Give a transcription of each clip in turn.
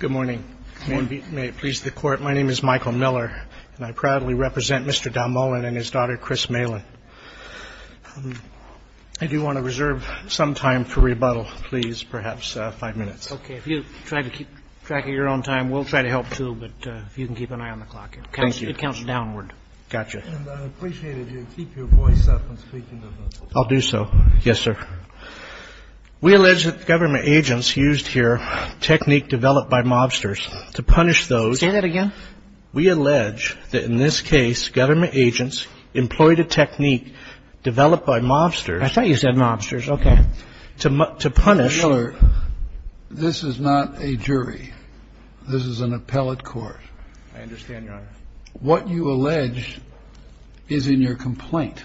Good morning. May it please the Court, my name is Michael Miller, and I proudly represent Mr. Dalmolin and his daughter, Chris Malin. I do want to reserve some time for rebuttal, please, perhaps five minutes. Okay. If you try to keep track of your own time, we'll try to help, too, but if you can keep an eye on the clock. Thank you. It counts downward. Gotcha. And I'd appreciate it if you'd keep your voice up when speaking. I'll do so. Yes, sir. We allege that government agents used here technique developed by mobsters to punish those. Say that again. We allege that in this case government agents employed a technique developed by mobsters. I thought you said mobsters. Okay. To punish. Mr. Miller, this is not a jury. This is an appellate court. I understand, Your Honor. What you allege is in your complaint.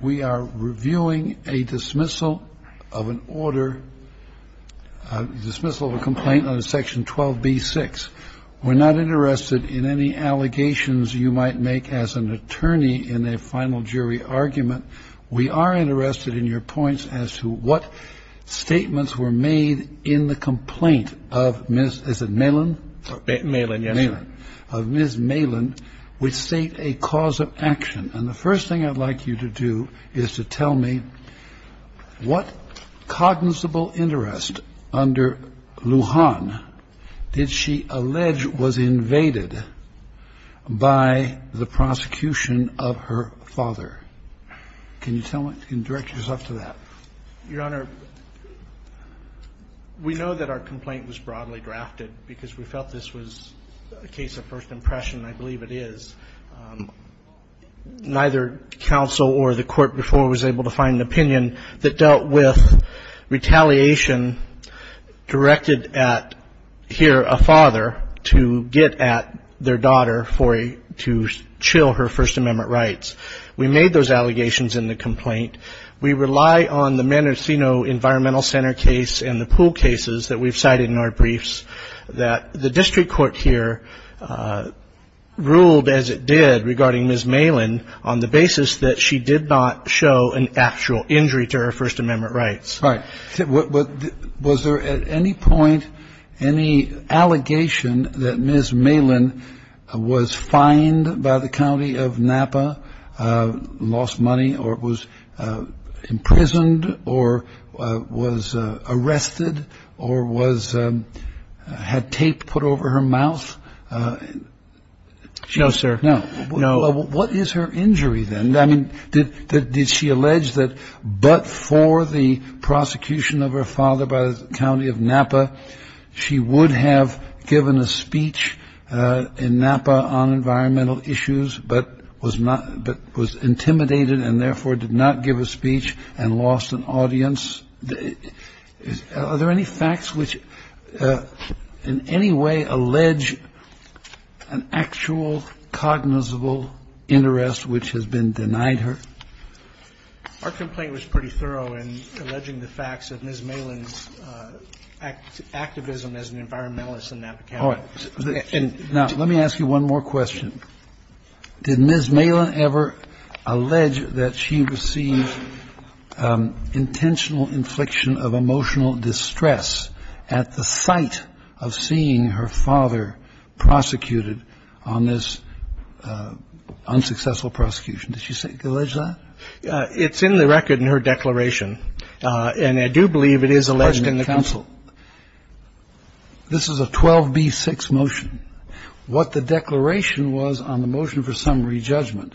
We are reviewing a dismissal of an order, dismissal of a complaint under Section 12B-6. We're not interested in any allegations you might make as an attorney in a final jury argument. We are interested in your points as to what statements were made in the complaint of Ms. Is it Malin? Malin. Yes, sir. Of Ms. Malin which state a cause of action. And the first thing I'd like you to do is to tell me what cognizable interest under Lujan did she allege was invaded by the prosecution of her father. Can you tell me? Can you direct yourself to that? Your Honor, we know that our complaint was broadly drafted because we felt this was a case of first impression. I believe it is. Neither counsel or the court before was able to find an opinion that dealt with retaliation directed at, here, a father to get at their daughter to chill her First Amendment rights. We made those allegations in the complaint. We rely on the Manicino Environmental Center case and the pool cases that we've cited in our briefs that the district court here ruled, as it did, regarding Ms. Malin on the basis that she did not show an actual injury to her First Amendment rights. Right. Was there at any point any allegation that Ms. Malin was fined by the county of Napa, lost money, or was imprisoned, or was arrested, or had tape put over her mouth? No, sir. No. What is her injury, then? Did she allege that but for the prosecution of her father by the county of Napa, she would have given a speech in Napa on environmental issues but was not – but was intimidated and therefore did not give a speech and lost an audience? Are there any facts which in any way allege an actual cognizable interest which has been denied her? Our complaint was pretty thorough in alleging the facts of Ms. Malin's activism as an environmentalist in Napa County. Now, let me ask you one more question. Did Ms. Malin ever allege that she received intentional infliction of emotional distress at the sight of seeing her father prosecuted on this unsuccessful prosecution? Did she allege that? It's in the record in her declaration, and I do believe it is alleged in the counsel. This is a 12b-6 motion. What the declaration was on the motion for summary judgment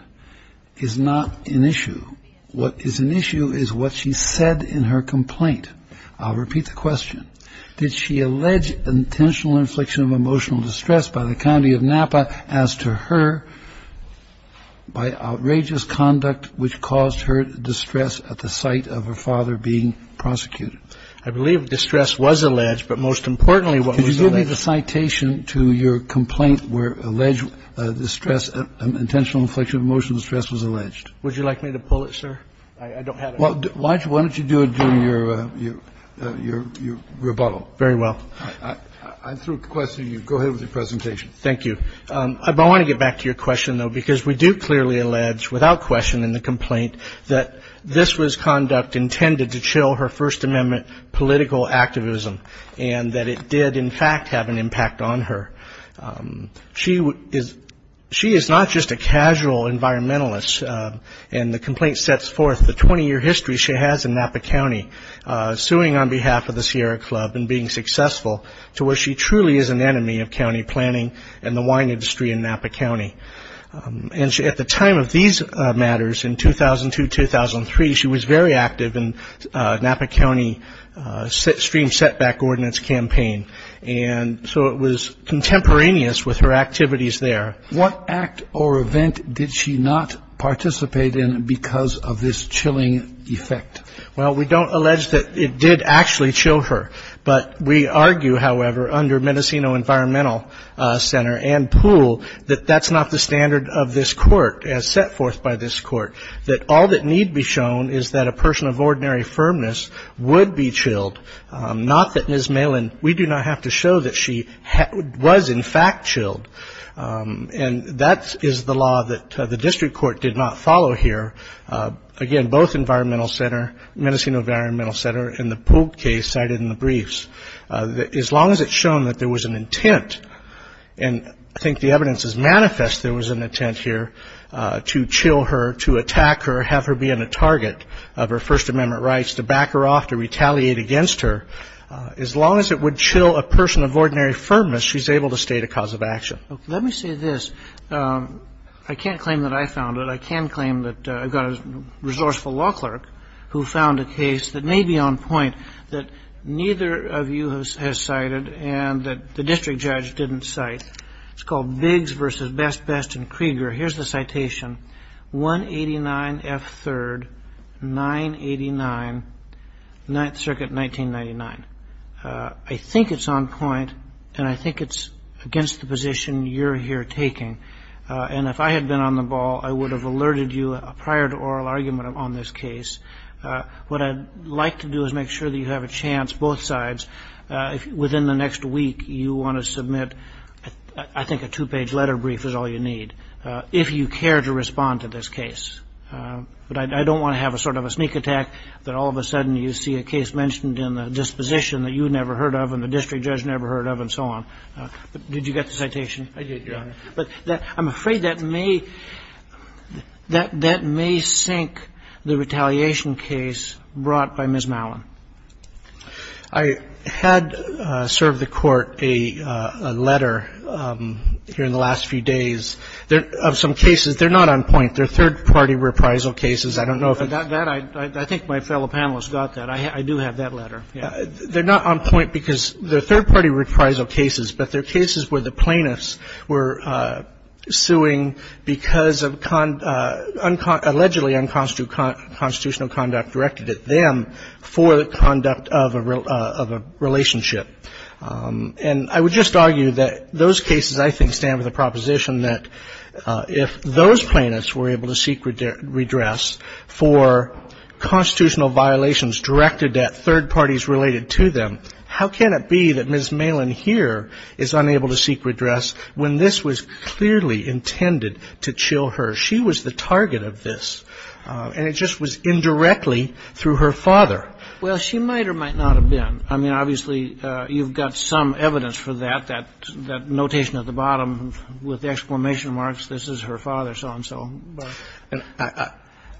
is not an issue. What is an issue is what she said in her complaint. I'll repeat the question. Did she allege intentional infliction of emotional distress by the county of Napa as to her by outrageous conduct which caused her distress at the sight of her father being prosecuted? I believe distress was alleged, but most importantly what was alleged – Could you give me the citation to your complaint where alleged distress – intentional infliction of emotional distress was alleged? Would you like me to pull it, sir? I don't have it. Why don't you do it during your rebuttal? Very well. I threw a question at you. Go ahead with your presentation. Thank you. I want to get back to your question, though, because we do clearly allege without question in the complaint that this was conduct intended to chill her First Amendment political activism and that it did in fact have an impact on her. She is not just a casual environmentalist, and the complaint sets forth the 20-year history she has in Napa County, suing on behalf of the Sierra Club and being successful to where she truly is an enemy of county planning and the wine industry in Napa County. And at the time of these matters, in 2002-2003, she was very active in Napa County's stream setback ordinance campaign, and so it was contemporaneous with her activities there. What act or event did she not participate in because of this chilling effect? Well, we don't allege that it did actually chill her, but we argue, however, under Mendocino Environmental Center and Pool, that that's not the standard of this court as set forth by this court, that all that need be shown is that a person of ordinary firmness would be chilled, not that Ms. Malin, we do not have to show that she was in fact chilled. And that is the law that the district court did not follow here. Again, both Mendocino Environmental Center and the Pool case cited in the briefs, as long as it's shown that there was an intent, and I think the evidence is manifest there was an intent here to chill her, to attack her, have her be a target of her First Amendment rights, to back her off, to retaliate against her, as long as it would chill a person of ordinary firmness, she's able to state a cause of action. Let me say this. I can't claim that I found it. But I can claim that I've got a resourceful law clerk who found a case that may be on point that neither of you has cited and that the district judge didn't cite. It's called Biggs v. Best Best and Krieger. Here's the citation, 189 F. 3rd, 989, Ninth Circuit, 1999. I think it's on point, and I think it's against the position you're here taking. And if I had been on the ball, I would have alerted you prior to oral argument on this case. What I'd like to do is make sure that you have a chance, both sides, if within the next week you want to submit I think a two-page letter brief is all you need, if you care to respond to this case. But I don't want to have a sort of a sneak attack that all of a sudden you see a case mentioned in the disposition that you never heard of and the district judge never heard of and so on. Did you get the citation? I did, Your Honor. But I'm afraid that may sink the retaliation case brought by Ms. Mallon. I had served the Court a letter here in the last few days of some cases. They're not on point. They're third-party reprisal cases. I don't know if it's that. I think my fellow panelists got that. I do have that letter. They're not on point because they're third-party reprisal cases, but they're cases where the plaintiffs were suing because of allegedly unconstitutional conduct directed at them for the conduct of a relationship. And I would just argue that those cases I think stand with the proposition that if those plaintiffs were able to seek redress for constitutional violations directed at third parties related to them, how can it be that Ms. Mallon here is unable to seek redress when this was clearly intended to chill her? She was the target of this, and it just was indirectly through her father. Well, she might or might not have been. I mean, obviously, you've got some evidence for that, that notation at the bottom with exclamation marks, this is her father, so-and-so.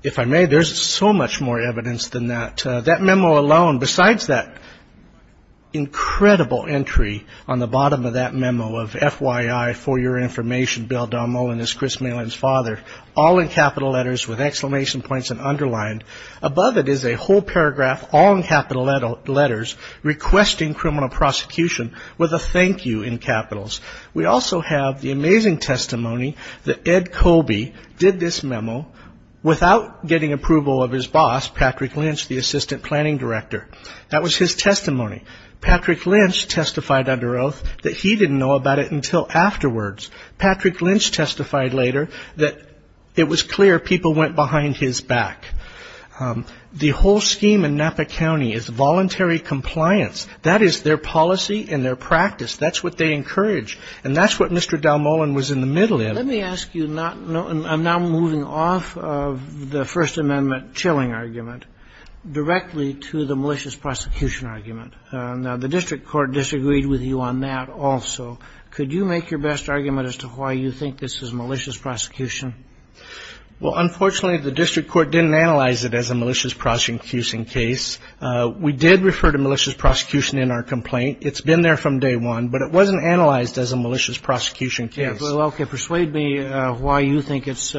If I may, there's so much more evidence than that. That memo alone, besides that incredible entry on the bottom of that memo of, FYI, for your information, Bill Dahlmohlen is Chris Mallon's father, all in capital letters with exclamation points and underlined. Above it is a whole paragraph, all in capital letters, requesting criminal prosecution with a thank you in capitals. We also have the amazing testimony that Ed Colby did this memo without getting approval of his boss, Patrick Lynch, the assistant planning director. That was his testimony. Patrick Lynch testified under oath that he didn't know about it until afterwards. Patrick Lynch testified later that it was clear people went behind his back. The whole scheme in Napa County is voluntary compliance. That is their policy and their practice. That's what they encourage. And that's what Mr. Dahlmohlen was in the middle of. Let me ask you, I'm now moving off of the First Amendment chilling argument directly to the malicious prosecution argument. Now, the district court disagreed with you on that also. Could you make your best argument as to why you think this is malicious prosecution? Well, unfortunately, the district court didn't analyze it as a malicious prosecution We did refer to malicious prosecution in our complaint. It's been there from day one. But it wasn't analyzed as a malicious prosecution case. Well, okay. Persuade me why you think it's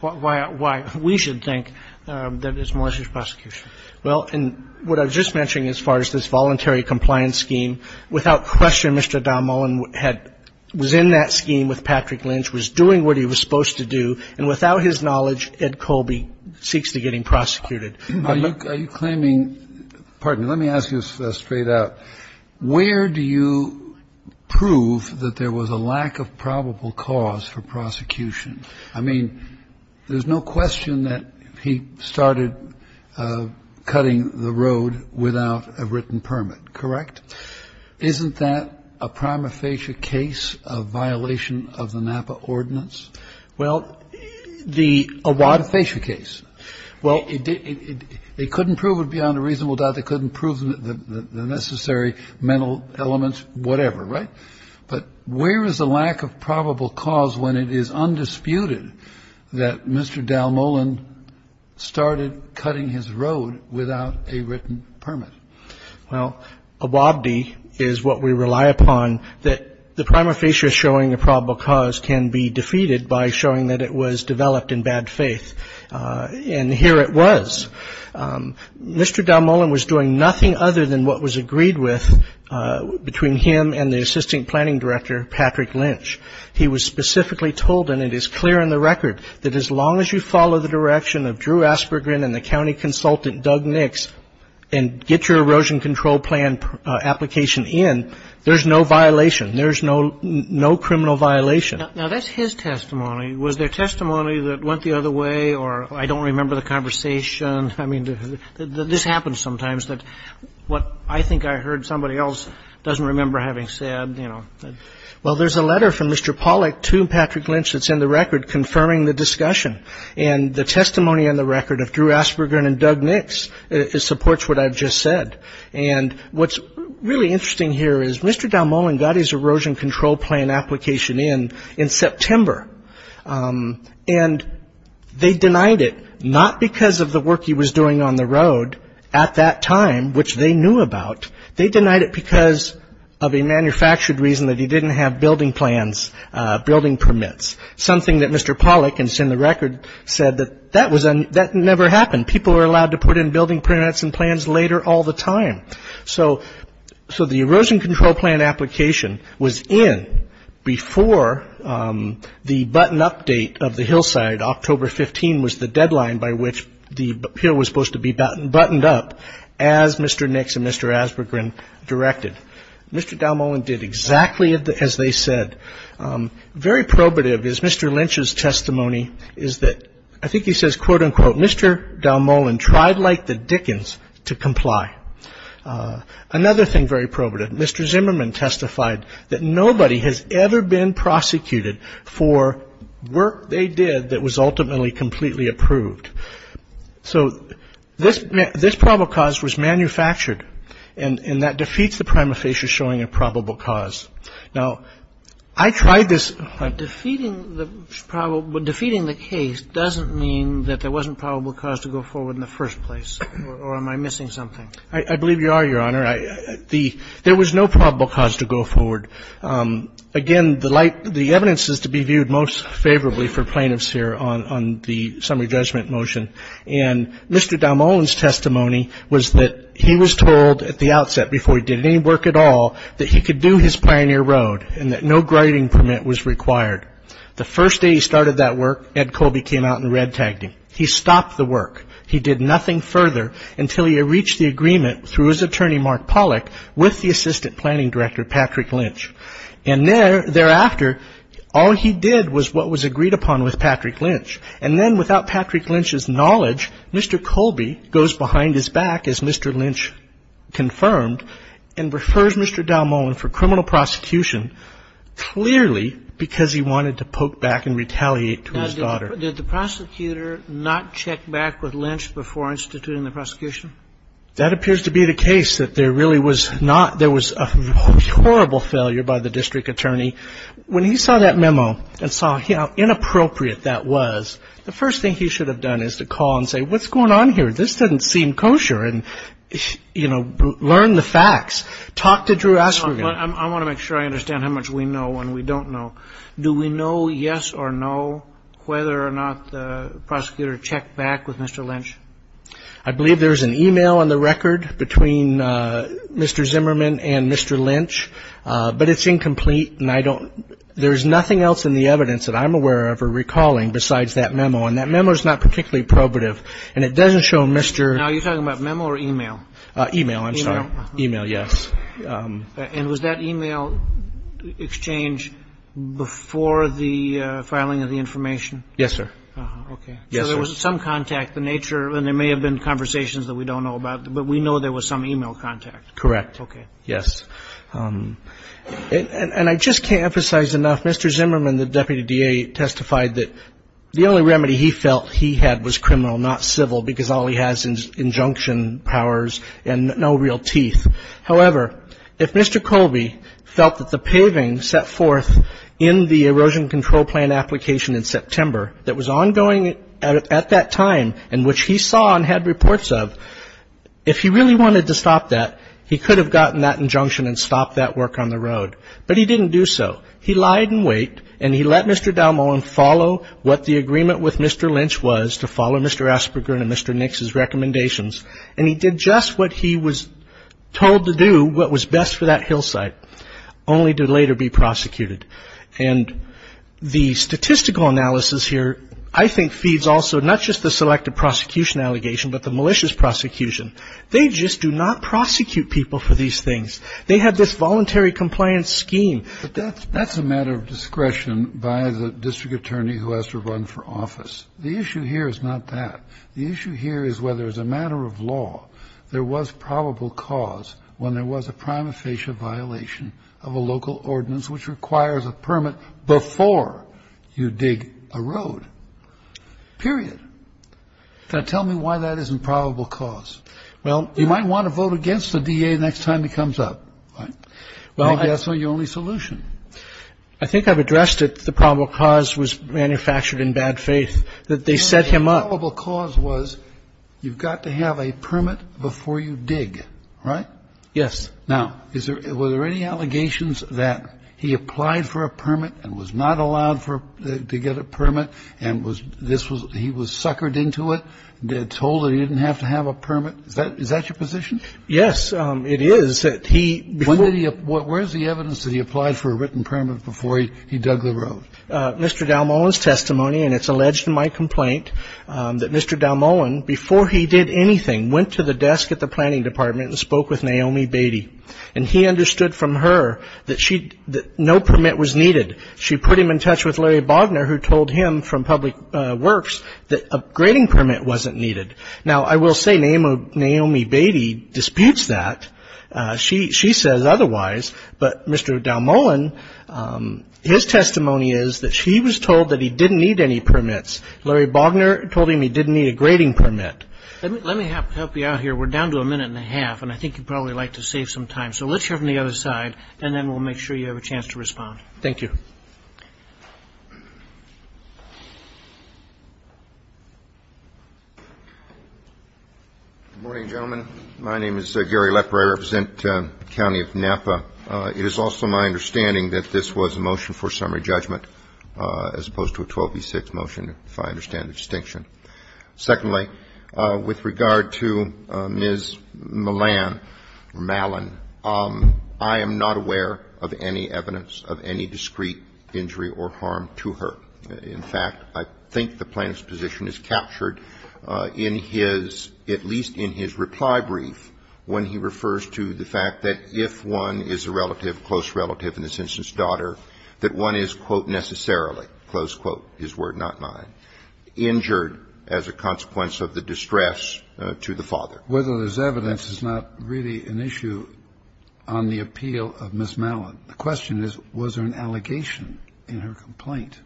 why we should think that it's malicious prosecution. Well, and what I was just mentioning as far as this voluntary compliance scheme, without question, Mr. Dahlmohlen was in that scheme with Patrick Lynch, was doing what he was supposed to do, and without his knowledge, Ed Colby seeks to get him prosecuted. Are you claiming – pardon me, let me ask you this straight out. Where do you prove that there was a lack of probable cause for prosecution? I mean, there's no question that he started cutting the road without a written permit, correct? Isn't that a prima facie case of violation of the Napa Ordinance? Well, the Awad facie case. Well, they couldn't prove it beyond a reasonable doubt. They couldn't prove the necessary mental elements, whatever, right? But where is the lack of probable cause when it is undisputed that Mr. Dahlmohlen started cutting his road without a written permit? Well, Awad is what we rely upon, that the prima facie showing a probable cause can be defeated by showing that it was developed in bad faith. And here it was. Mr. Dahlmohlen was doing nothing other than what was agreed with between him and the assistant planning director, Patrick Lynch. He was specifically told, and it is clear in the record, that as long as you follow the direction of Drew Aspergren and the county consultant, Doug Nix, and get your erosion control plan application in, there's no violation. There's no criminal violation. Now, that's his testimony. Was there testimony that went the other way, or I don't remember the conversation? I mean, this happens sometimes, that what I think I heard somebody else doesn't remember having said, you know. Well, there's a letter from Mr. Pollack to Patrick Lynch that's in the record confirming the discussion, and the testimony in the record of Drew Aspergren and Doug Nix supports what I've just said. And what's really interesting here is Mr. Dahlmohlen got his erosion control plan application in in September, and they denied it, not because of the work he was doing on the road at that time, which they knew about. They denied it because of a manufactured reason that he didn't have building plans, building permits, something that Mr. Pollack, and it's in the record, said that that never happened. People are allowed to put in building permits and plans later all the time. So the erosion control plan application was in before the button update of the hillside. October 15 was the deadline by which the hill was supposed to be buttoned up, as Mr. Nix and Mr. Aspergren directed. Mr. Dahlmohlen did exactly as they said. Very probative is Mr. Lynch's testimony is that, I think he says, quote, unquote, Mr. Dahlmohlen tried like the Dickens to comply. Another thing very probative, Mr. Zimmerman testified that nobody has ever been prosecuted for work they did that was ultimately completely approved. So this probable cause was manufactured, and that defeats the prima facie showing a probable cause. Now, I tried this. Defeating the case doesn't mean that there wasn't probable cause to go forward in the first place. Or am I missing something? I believe you are, Your Honor. There was no probable cause to go forward. Again, the evidence is to be viewed most favorably for plaintiffs here on the summary judgment motion. And Mr. Dahlmohlen's testimony was that he was told at the outset, before he did any work at all, that he could do his pioneer road and that no grading permit was required. The first day he started that work, Ed Colby came out and red-tagged him. He stopped the work. He did nothing further until he reached the agreement through his attorney, Mark Pollack, with the assistant planning director, Patrick Lynch. And thereafter, all he did was what was agreed upon with Patrick Lynch. And then without Patrick Lynch's knowledge, Mr. Colby goes behind his back, as Mr. Lynch confirmed, and refers Mr. Dahlmohlen for criminal prosecution, clearly because he wanted to poke back and retaliate to his daughter. Now, did the prosecutor not check back with Lynch before instituting the prosecution? That appears to be the case, that there really was not ñ there was a horrible failure by the district attorney. When he saw that memo and saw how inappropriate that was, the first thing he should have done is to call and say, what's going on here? This doesn't seem kosher. And, you know, learn the facts. Talk to Drew Osberg. I want to make sure I understand how much we know and we don't know. Do we know, yes or no, whether or not the prosecutor checked back with Mr. Lynch? I believe there's an e-mail on the record between Mr. Zimmerman and Mr. Lynch, but it's incomplete, and I don't ñ there's nothing else in the evidence that I'm aware of or recalling besides that memo. And that memo is not particularly probative, and it doesn't show Mr. ñ Now, are you talking about memo or e-mail? E-mail, I'm sorry. E-mail. E-mail, yes. And was that e-mail exchange before the filing of the information? Yes, sir. Okay. Yes, sir. So there was some contact, the nature, and there may have been conversations that we don't know about, but we know there was some e-mail contact. Correct. Okay. Yes. And I just can't emphasize enough, Mr. Zimmerman, the deputy DA, testified that the only remedy he felt he had was criminal, not civil, because all he has is injunction powers and no real teeth. However, if Mr. Colby felt that the paving set forth in the erosion control plan application in September that was ongoing at that time and which he saw and had reports of, if he really wanted to stop that, he could have gotten that injunction and stopped that work on the road. But he didn't do so. He lied in wait, and he let Mr. Dalmo and follow what the agreement with Mr. Lynch was, to follow Mr. Asperger and Mr. Nix's recommendations. And he did just what he was told to do, what was best for that hillside, only to later be prosecuted. And the statistical analysis here, I think, feeds also not just the selective prosecution allegation but the malicious prosecution. They just do not prosecute people for these things. They have this voluntary compliance scheme. But that's a matter of discretion by the district attorney who has to run for office. The issue here is not that. The issue here is whether, as a matter of law, there was probable cause when there was a prima facie violation of a local ordinance which requires a permit before you dig a road, period. Now, tell me why that isn't probable cause. Well, you might want to vote against the DA next time he comes up, right? Maybe that's not your only solution. I think I've addressed it. The probable cause was manufactured in bad faith, that they set him up. The probable cause was you've got to have a permit before you dig, right? Yes. Now, were there any allegations that he applied for a permit and was not allowed to get a permit and he was suckered into it, told that he didn't have to have a permit? Is that your position? Yes, it is. Where is the evidence that he applied for a written permit before he dug the road? Mr. Dalmohan's testimony, and it's alleged in my complaint that Mr. Dalmohan, before he did anything, went to the desk at the planning department and spoke with Naomi Beatty. And he understood from her that no permit was needed. She put him in touch with Larry Bogner, who told him from Public Works that a grading permit wasn't needed. Now, I will say Naomi Beatty disputes that. She says otherwise. But Mr. Dalmohan, his testimony is that she was told that he didn't need any permits. Larry Bogner told him he didn't need a grading permit. Let me help you out here. We're down to a minute and a half, and I think you'd probably like to save some time. So let's hear from the other side, and then we'll make sure you have a chance to respond. Thank you. Good morning, gentlemen. My name is Gary Lepre. I represent the County of Napa. It is also my understanding that this was a motion for summary judgment as opposed to a 12B6 motion, if I understand the distinction. Secondly, with regard to Ms. Malan, I am not aware of any evidence of any discreet injury or harm to her. In fact, I think the plaintiff's position is captured in his, at least in his reply brief, when he refers to the fact that if one is a relative, close relative, in this instance daughter, that one is, quote, necessarily, close quote, his word, not mine, injured as a consequence of the distress to the father. Whether there's evidence is not really an issue on the appeal of Ms. Malan. The question is, was there an allegation in her complaint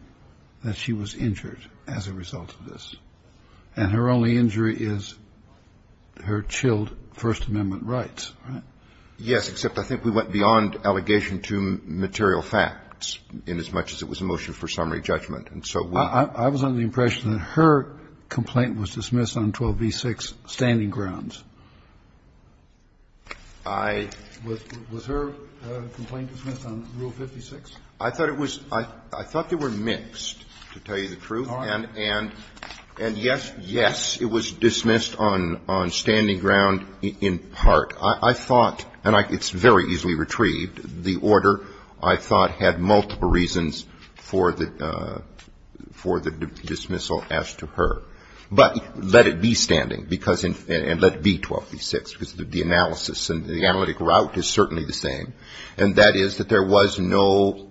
that she was injured as a result of this? And her only injury is her chilled First Amendment rights, right? Yes, except I think we went beyond allegation to material facts inasmuch as it was a motion for summary judgment, and so we don't know. I was under the impression that her complaint was dismissed on 12B6 standing grounds. I. Was her complaint dismissed on Rule 56? I thought it was. I thought they were mixed, to tell you the truth. All right. And yes, yes, it was dismissed on standing ground in part. I thought, and it's very easily retrieved, the order, I thought, had multiple reasons for the dismissal as to her. But let it be standing, and let it be 12B6, because the analysis and the analytic route is certainly the same. And that is that there was no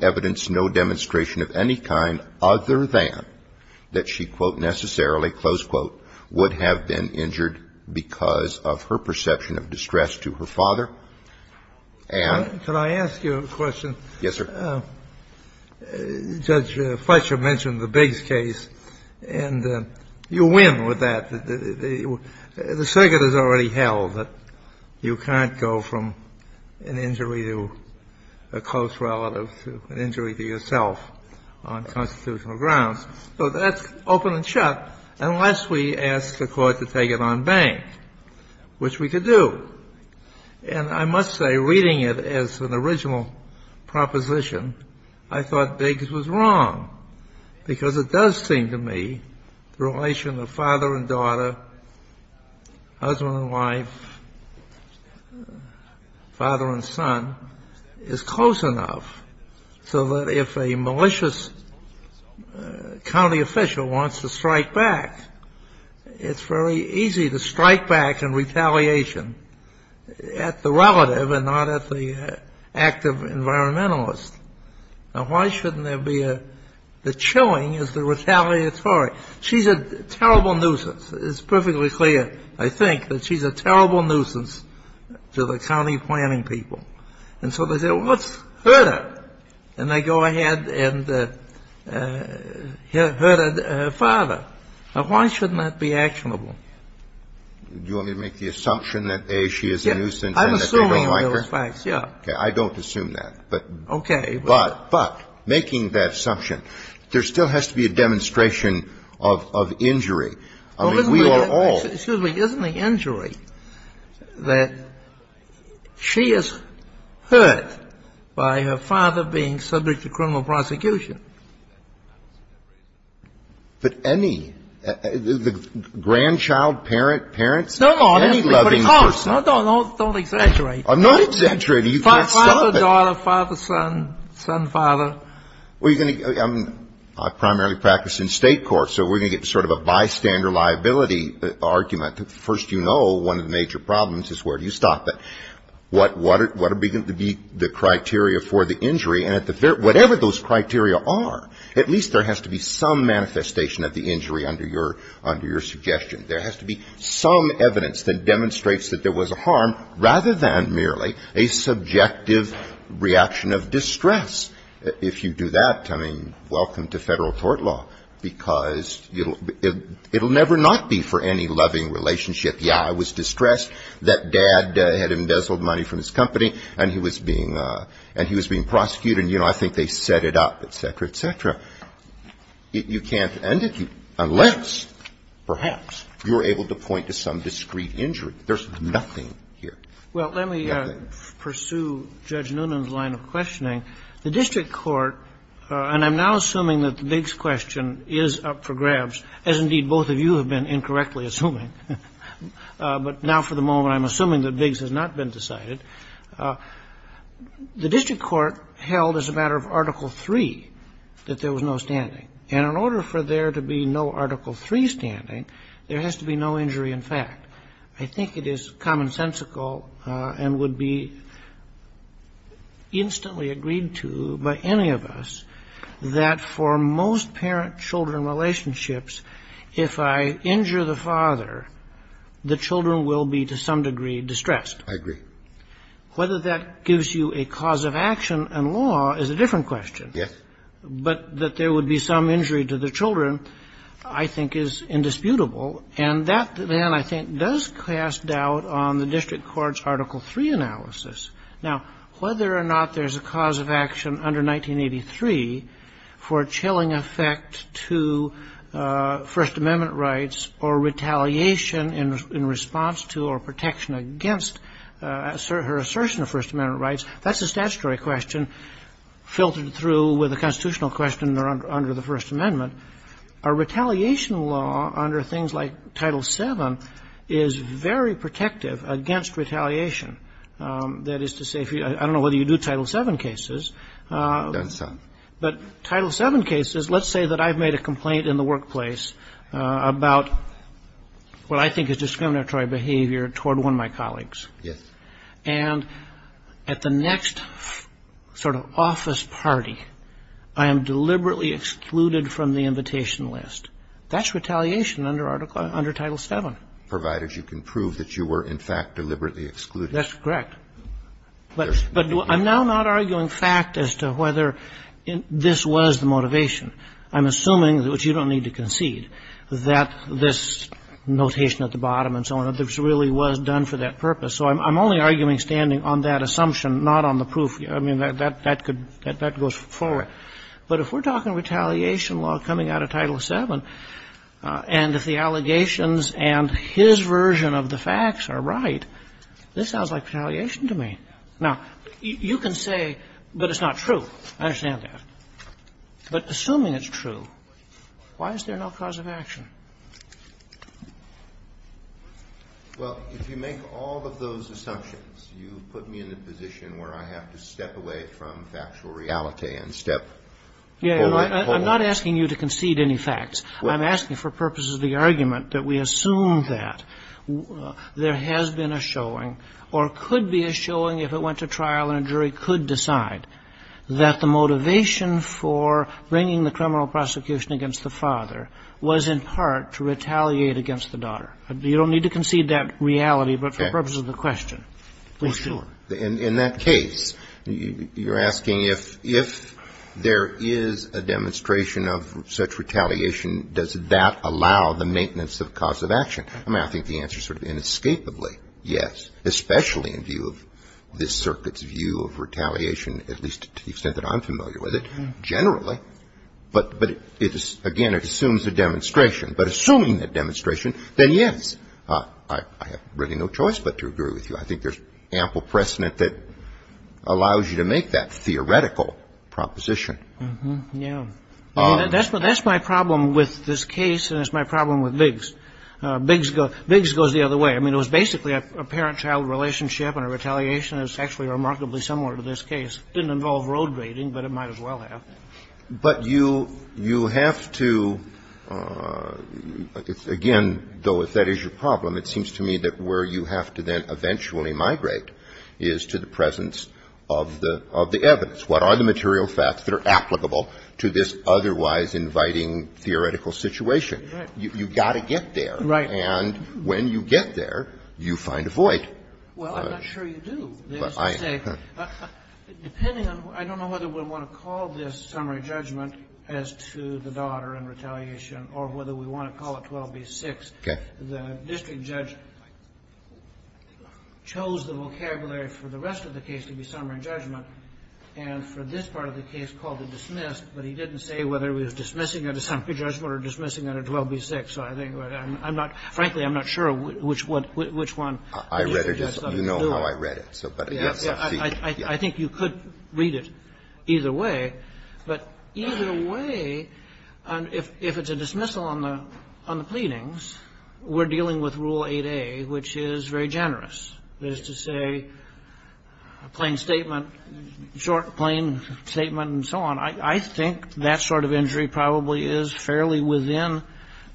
evidence, no demonstration of any kind other than that she, quote, quote, would have been injured because of her perception of distress to her father. And can I ask you a question? Yes, sir. Judge Fletcher mentioned the Biggs case, and you win with that. The circuit has already held that you can't go from an injury to a close relative to an injury to yourself on constitutional grounds. So that's open and shut unless we ask the Court to take it on bank, which we could do. And I must say, reading it as an original proposition, I thought Biggs was wrong, because it does seem to me the relation of father and daughter, husband and wife, father and son, is close enough so that if a malicious county official wants to strike back, it's very easy to strike back in retaliation at the relative and not at the active environmentalist. Now, why shouldn't there be a chilling as the retaliatory? She's a terrible nuisance. It's perfectly clear, I think, that she's a terrible nuisance to the county planning people. And so they say, well, let's hurt her. And they go ahead and hurt her father. Now, why shouldn't that be actionable? Do you want me to make the assumption that, A, she is a nuisance and that they don't like her? I'm assuming those facts, yes. I don't assume that. Okay. But making that assumption, there still has to be a demonstration of injury. I mean, we are all — Well, excuse me. Isn't the injury that she is hurt by her father being subject to criminal prosecution? But any — the grandchild, parent, parents, any loving person — No, no. Don't exaggerate. I'm not exaggerating. You can't stop it. Father, daughter, father, son, son, father. Well, you're going to — I primarily practice in state courts, so we're going to get sort of a bystander liability argument. First, you know one of the major problems is where do you stop it. What are going to be the criteria for the injury? And at the very — whatever those criteria are, at least there has to be some manifestation of the injury under your suggestion. There has to be some evidence that demonstrates that there was a harm rather than merely a subjective reaction of distress. If you do that, I mean, welcome to federal court law, because it will never not be for any loving relationship. Yeah, I was distressed that Dad had embezzled money from his company, and he was being — and he was being prosecuted, and, you know, I think they set it up, et cetera, et cetera. You can't end it unless, perhaps, you're able to point to some discrete injury. There's nothing here. Nothing. Well, let me pursue Judge Noonan's line of questioning. The district court — and I'm now assuming that the Biggs question is up for grabs, as indeed both of you have been incorrectly assuming. But now for the moment, I'm assuming that Biggs has not been decided. The district court held as a matter of Article III that there was no standing. And in order for there to be no Article III standing, there has to be no injury in fact. I think it is commonsensical and would be instantly agreed to by any of us that for most parent-children relationships, if I injure the father, the children will be to some degree distressed. I agree. Whether that gives you a cause of action in law is a different question. Yes. But that there would be some injury to the children, I think, is indisputable. And that, then, I think, does cast doubt on the district court's Article III analysis. Now, whether or not there's a cause of action under 1983 for a chilling effect to First Amendment rights or retaliation in response to or protection against her assertion of First Amendment rights, that's a statutory question filtered through with a constitutional question under the First Amendment. A retaliation law under things like Title VII is very protective against retaliation. That is to say, I don't know whether you do Title VII cases. I've done some. But Title VII cases, let's say that I've made a complaint in the workplace about what I think is discriminatory behavior toward one of my colleagues. Yes. And at the next sort of office party, I am deliberately excluded from the invitation list. That's retaliation under Title VII. Provided you can prove that you were, in fact, deliberately excluded. That's correct. But I'm now not arguing fact as to whether this was the motivation. I'm assuming, which you don't need to concede, that this notation at the bottom and so on, that this really was done for that purpose. So I'm only arguing standing on that assumption, not on the proof. I mean, that could go forward. But if we're talking retaliation law coming out of Title VII, and if the allegations and his version of the facts are right, this sounds like retaliation to me. Now, you can say, but it's not true. I understand that. But assuming it's true, why is there no cause of action? Well, if you make all of those assumptions, you put me in a position where I have to step away from factual reality and step forward. I'm not asking you to concede any facts. I'm asking for purposes of the argument that we assume that there has been a showing or could be a showing if it went to trial and a jury could decide that the motivation for bringing the criminal prosecution against the father was in part to retaliate against the daughter. You don't need to concede that reality, but for purposes of the question. For sure. In that case, you're asking if there is a demonstration of such retaliation, does that allow the maintenance of cause of action? I mean, I think the answer is sort of inescapably yes, especially in view of this circuit's view of retaliation, at least to the extent that I'm familiar with it, generally. But again, it assumes a demonstration. But assuming that demonstration, then yes, I have really no choice but to agree with you. I think there's ample precedent that allows you to make that theoretical proposition. Yeah. That's my problem with this case and it's my problem with Biggs. Biggs goes the other way. I mean, it was basically a parent-child relationship and a retaliation. It's actually remarkably similar to this case. It didn't involve road raiding, but it might as well have. But you have to, again, though if that is your problem, it seems to me that where you have to then eventually migrate is to the presence of the evidence. What are the material facts that are applicable to this otherwise inviting theoretical situation? Right. You've got to get there. Right. And when you get there, you find a void. Well, I'm not sure you do. I am. Depending on, I don't know whether we want to call this summary judgment as to the daughter and retaliation or whether we want to call it 12b-6. Okay. The district judge chose the vocabulary for the rest of the case to be summary judgment and for this part of the case called it dismissed. But he didn't say whether he was dismissing it as summary judgment or dismissing it as 12b-6. So I think I'm not – frankly, I'm not sure which one the district judge decided to do it. I read it. You know how I read it. Yeah. I think you could read it either way. But either way, if it's a dismissal on the pleadings, we're dealing with Rule 8a, which is very generous. That is to say, plain statement, short, plain statement and so on. I think that sort of injury probably is fairly within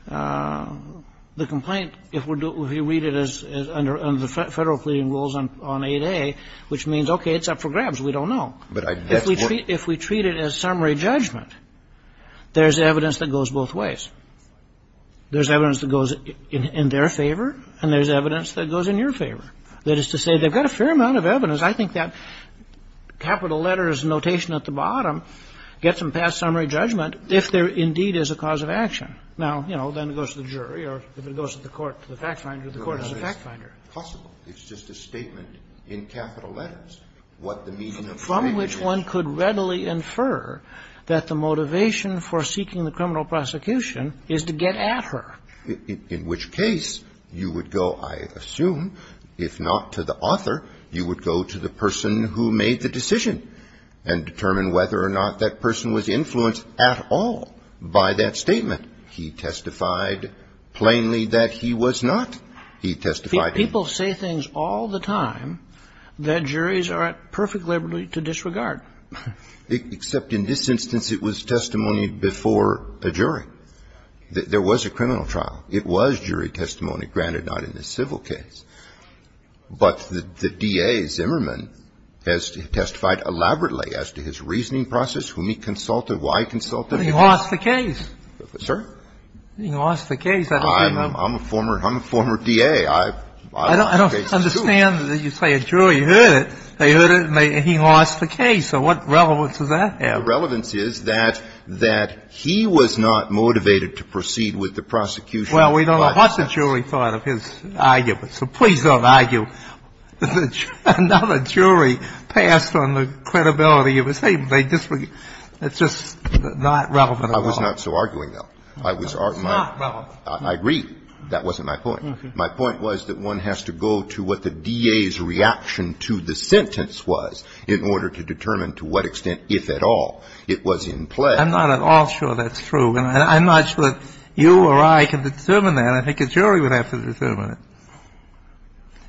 the complaint if we read it as under the Federal pleading rules on 8a, which means, okay, it's up for grabs. We don't know. If we treat it as summary judgment, there's evidence that goes both ways. There's evidence that goes in their favor and there's evidence that goes in your favor. That is to say, they've got a fair amount of evidence. I think that capital letters notation at the bottom gets them past summary judgment if there indeed is a cause of action. Now, you know, then it goes to the jury or if it goes to the court, to the fact finder, the court is the fact finder. It's not possible. It's just a statement in capital letters what the meaning of the claim is. And from which one could readily infer that the motivation for seeking the criminal prosecution is to get at her. In which case, you would go, I assume, if not to the author, you would go to the person who made the decision and determine whether or not that person was influenced at all by that statement. He testified plainly that he was not. He testified plainly. People say things all the time that juries are at perfect liberty to disregard. Except in this instance, it was testimony before a jury. There was a criminal trial. It was jury testimony, granted not in this civil case. But the DA, Zimmerman, has testified elaborately as to his reasoning process, whom he consulted, why he consulted. But he lost the case. Sir? He lost the case. I'm a former DA. I don't understand that you say a jury heard it. They heard it and he lost the case. So what relevance does that have? The relevance is that he was not motivated to proceed with the prosecution. Well, we don't know what the jury thought of his argument, so please don't argue. Another jury passed on the credibility of his statement. It's just not relevant at all. I was not so arguing, though. It's not relevant. I agree. That wasn't my point. My point was that one has to go to what the DA's reaction to the sentence was in order to determine to what extent, if at all, it was in play. I'm not at all sure that's true. And I'm not sure that you or I can determine that. I think a jury would have to determine it.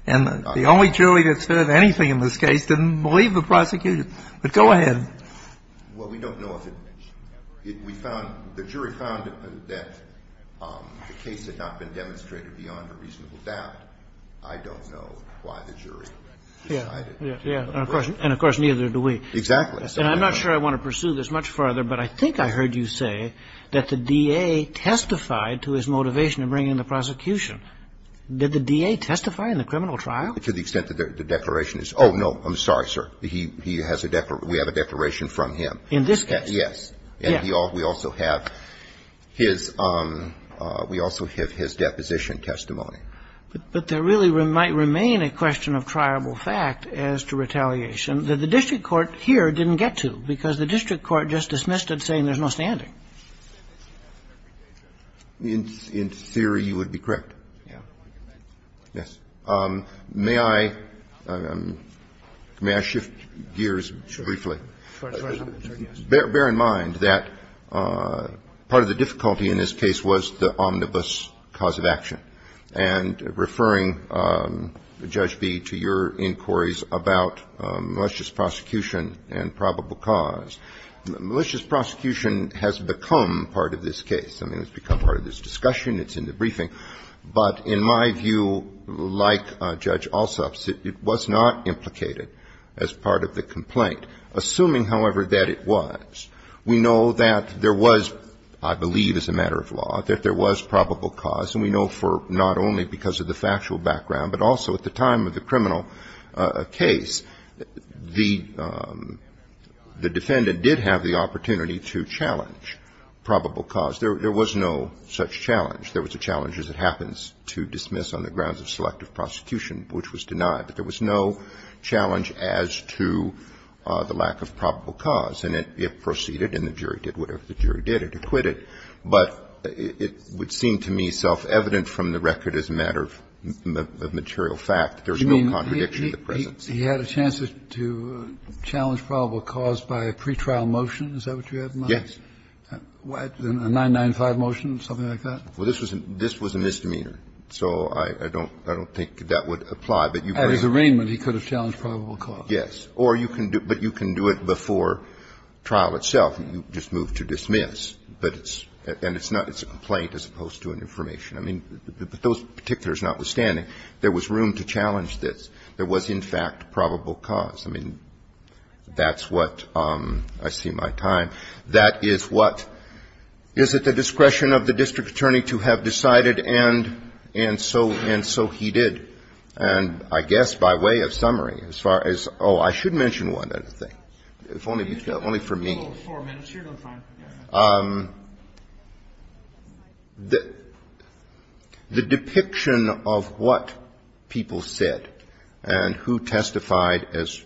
And the only jury that's heard anything in this case didn't believe the prosecution. But go ahead. Well, we don't know if it we found the jury found that the case had not been demonstrated beyond a reasonable doubt. I don't know why the jury decided. Yeah. And, of course, neither do we. Exactly. And I'm not sure I want to pursue this much farther, but I think I heard you say that the DA testified to his motivation in bringing the prosecution. Did the DA testify in the criminal trial? To the extent that the declaration is oh, no, I'm sorry, sir. He has a declaration. We have a declaration from him. In this case? Yes. And we also have his – we also have his deposition testimony. But there really might remain a question of triable fact as to retaliation that the district court here didn't get to because the district court just dismissed it saying there's no standing. In theory, you would be correct. Yeah. Yes. May I shift gears briefly? Bear in mind that part of the difficulty in this case was the omnibus cause of action. And referring, Judge B, to your inquiries about malicious prosecution and probable cause, malicious prosecution has become part of this case. I mean, it's become part of this discussion. It's in the briefing. But in my view, like Judge Alsop's, it was not implicated as part of the complaint, assuming, however, that it was. We know that there was, I believe as a matter of law, that there was probable cause, and we know for not only because of the factual background, but also at the time of the criminal case, the defendant did have the opportunity to challenge probable cause. There was no such challenge. There was a challenge, as it happens, to dismiss on the grounds of selective prosecution, which was denied. But there was no challenge as to the lack of probable cause. And it proceeded, and the jury did whatever the jury did. It acquitted. But it would seem to me self-evident from the record as a matter of material fact, there's no contradiction of the presence. You mean he had a chance to challenge probable cause by a pretrial motion? Is that what you have in mind? Yes. A 995 motion, something like that? Well, this was a misdemeanor. So I don't think that would apply. At his arraignment, he could have challenged probable cause. Yes. But you can do it before trial itself. You just move to dismiss. And it's a complaint as opposed to an information. I mean, but those particulars notwithstanding, there was room to challenge this. There was, in fact, probable cause. I mean, that's what I see in my time. I think the question is, is it the discretion of the district attorney to have decided and so he did? And I guess by way of summary, as far as — oh, I should mention one other thing, if only for me. If you have four minutes, you're doing fine. The depiction of what people said and who testified as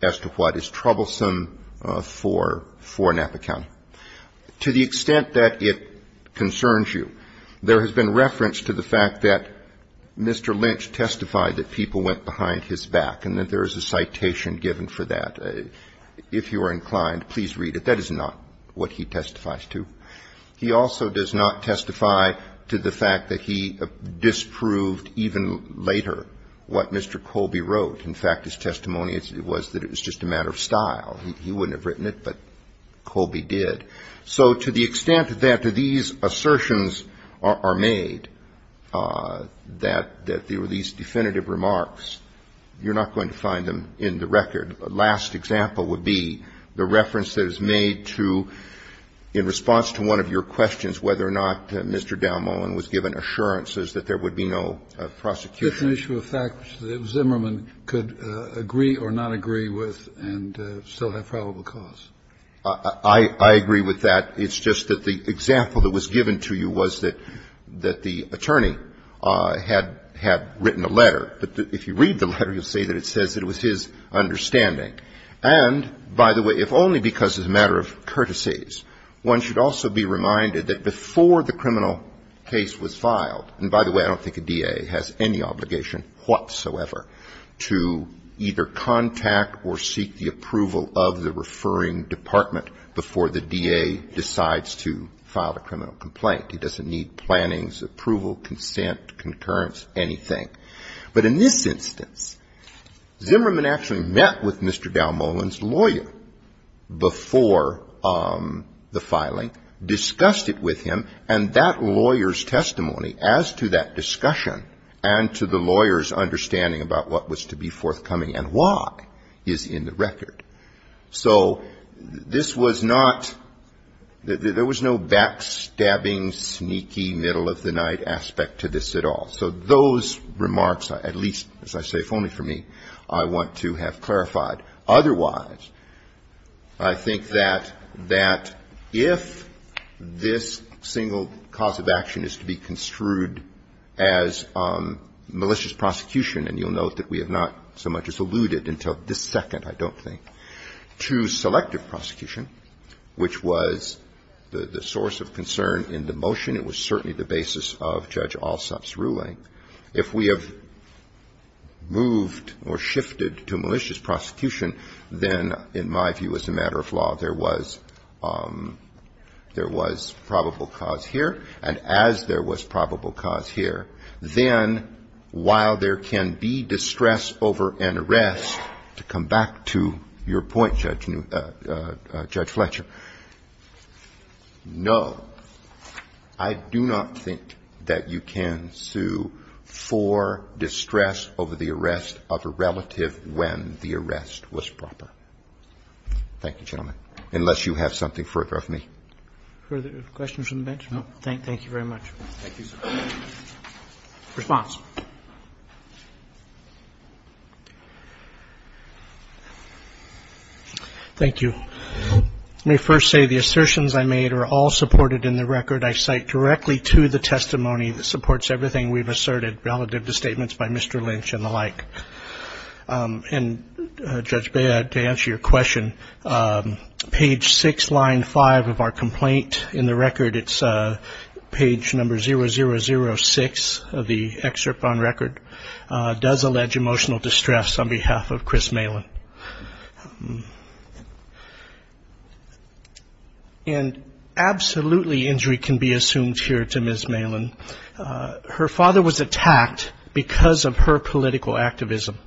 to what is troublesome for Napa County, to the extent that it concerns you, there has been reference to the fact that Mr. Lynch testified that people went behind his back and that there is a citation given for that. If you are inclined, please read it. That is not what he testifies to. He also does not testify to the fact that he disproved even later what Mr. Colby wrote. In fact, his testimony was that it was just a matter of style. He wouldn't have written it, but Colby did. So to the extent that these assertions are made, that there were these definitive remarks, you're not going to find them in the record. The last example would be the reference that is made to, in response to one of your questions, whether or not Mr. Dalmohan was given assurances that there would be no prosecution. It's an issue of fact that Zimmerman could agree or not agree with and still have probable cause. I agree with that. It's just that the example that was given to you was that the attorney had written a letter, but if you read the letter, you'll see that it says it was his understanding. And, by the way, if only because it's a matter of courtesies, one should also be reminded that before the criminal case was filed, and, by the way, I don't think a DA has any obligation whatsoever to either contact or seek the approval of the referring department before the DA decides to file a criminal complaint. He doesn't need plannings, approval, consent, concurrence, anything. But in this instance, Zimmerman actually met with Mr. Dalmohan's lawyer before the case was filed. He met with him, and that lawyer's testimony as to that discussion and to the lawyer's understanding about what was to be forthcoming and why is in the record. So this was not – there was no backstabbing, sneaky, middle-of-the-night aspect to this at all. So those remarks, at least, as I say, if only for me, I want to have clarified. Otherwise, I think that if this single cause of action is to be construed as malicious prosecution, and you'll note that we have not so much as alluded until this second, I don't think, to selective prosecution, which was the source of concern in the motion, it was certainly the basis of Judge Alsop's ruling. If we have moved or shifted to malicious prosecution, then, in my view as a matter of law, there was probable cause here, and as there was probable cause here, then while there can be distress over an arrest, to come back to your point, Judge Fletcher, no, I do not think that you can sue for distress over the arrest of a relative when the arrest was proper. Thank you, gentlemen. Unless you have something further of me. Roberts. Further questions from the bench? No. Thank you very much. Thank you, sir. Response. Thank you. Let me first say the assertions I made are all supported in the record. I cite directly to the testimony that supports everything we've asserted relative to statements by Mr. Lynch and the like. And, Judge Baird, to answer your question, page six, line five of our complaint, in the record it's page number 0006 of the excerpt on record, does allege emotional distress on behalf of Chris Malin. And absolutely injury can be assumed here to Ms. Malin. Her father was attacked because of her political activism.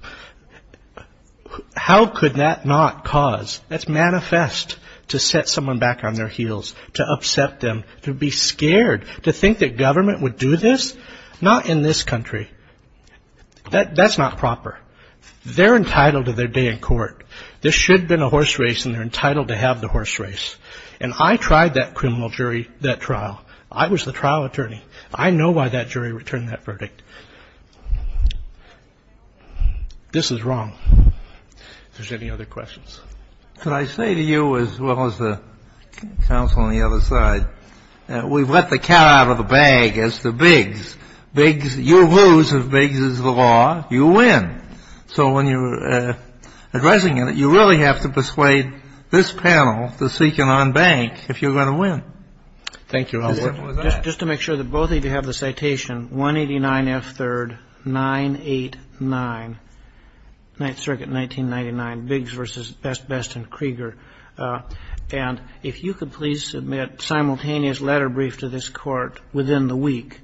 How could that not cause? That's manifest to set someone back on their heels, to upset them, to be scared, to think that government would do this? Not in this country. That's not proper. They're entitled to their day in court. This should have been a horse race and they're entitled to have the horse race. And I tried that criminal jury, that trial. I was the trial attorney. I know why that jury returned that verdict. This is wrong. If there's any other questions. Could I say to you as well as the counsel on the other side, we've let the cat out of the bag as to Biggs. Biggs, you lose if Biggs is the law. You win. So when you're addressing it, you really have to persuade this panel to seek an en banc if you're going to win. Thank you, Your Honor. Just to make sure that both of you have the citation, 189 F. 3rd. 989. Ninth Circuit, 1999. Biggs versus Best, Best and Krieger. And if you could please submit simultaneous letter brief to this court within the week,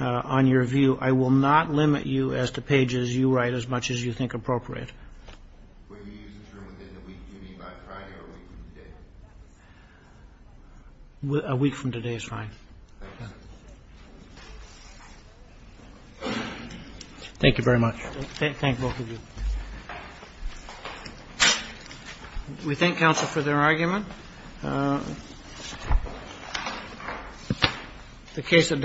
on your view, I will not limit you as to pages you write as much as you think appropriate. When you use the term within the week, do you mean by Friday or a week from today? A week from today is fine. Okay. Thank you very much. Thank both of you. We thank counsel for their argument. The case adopted.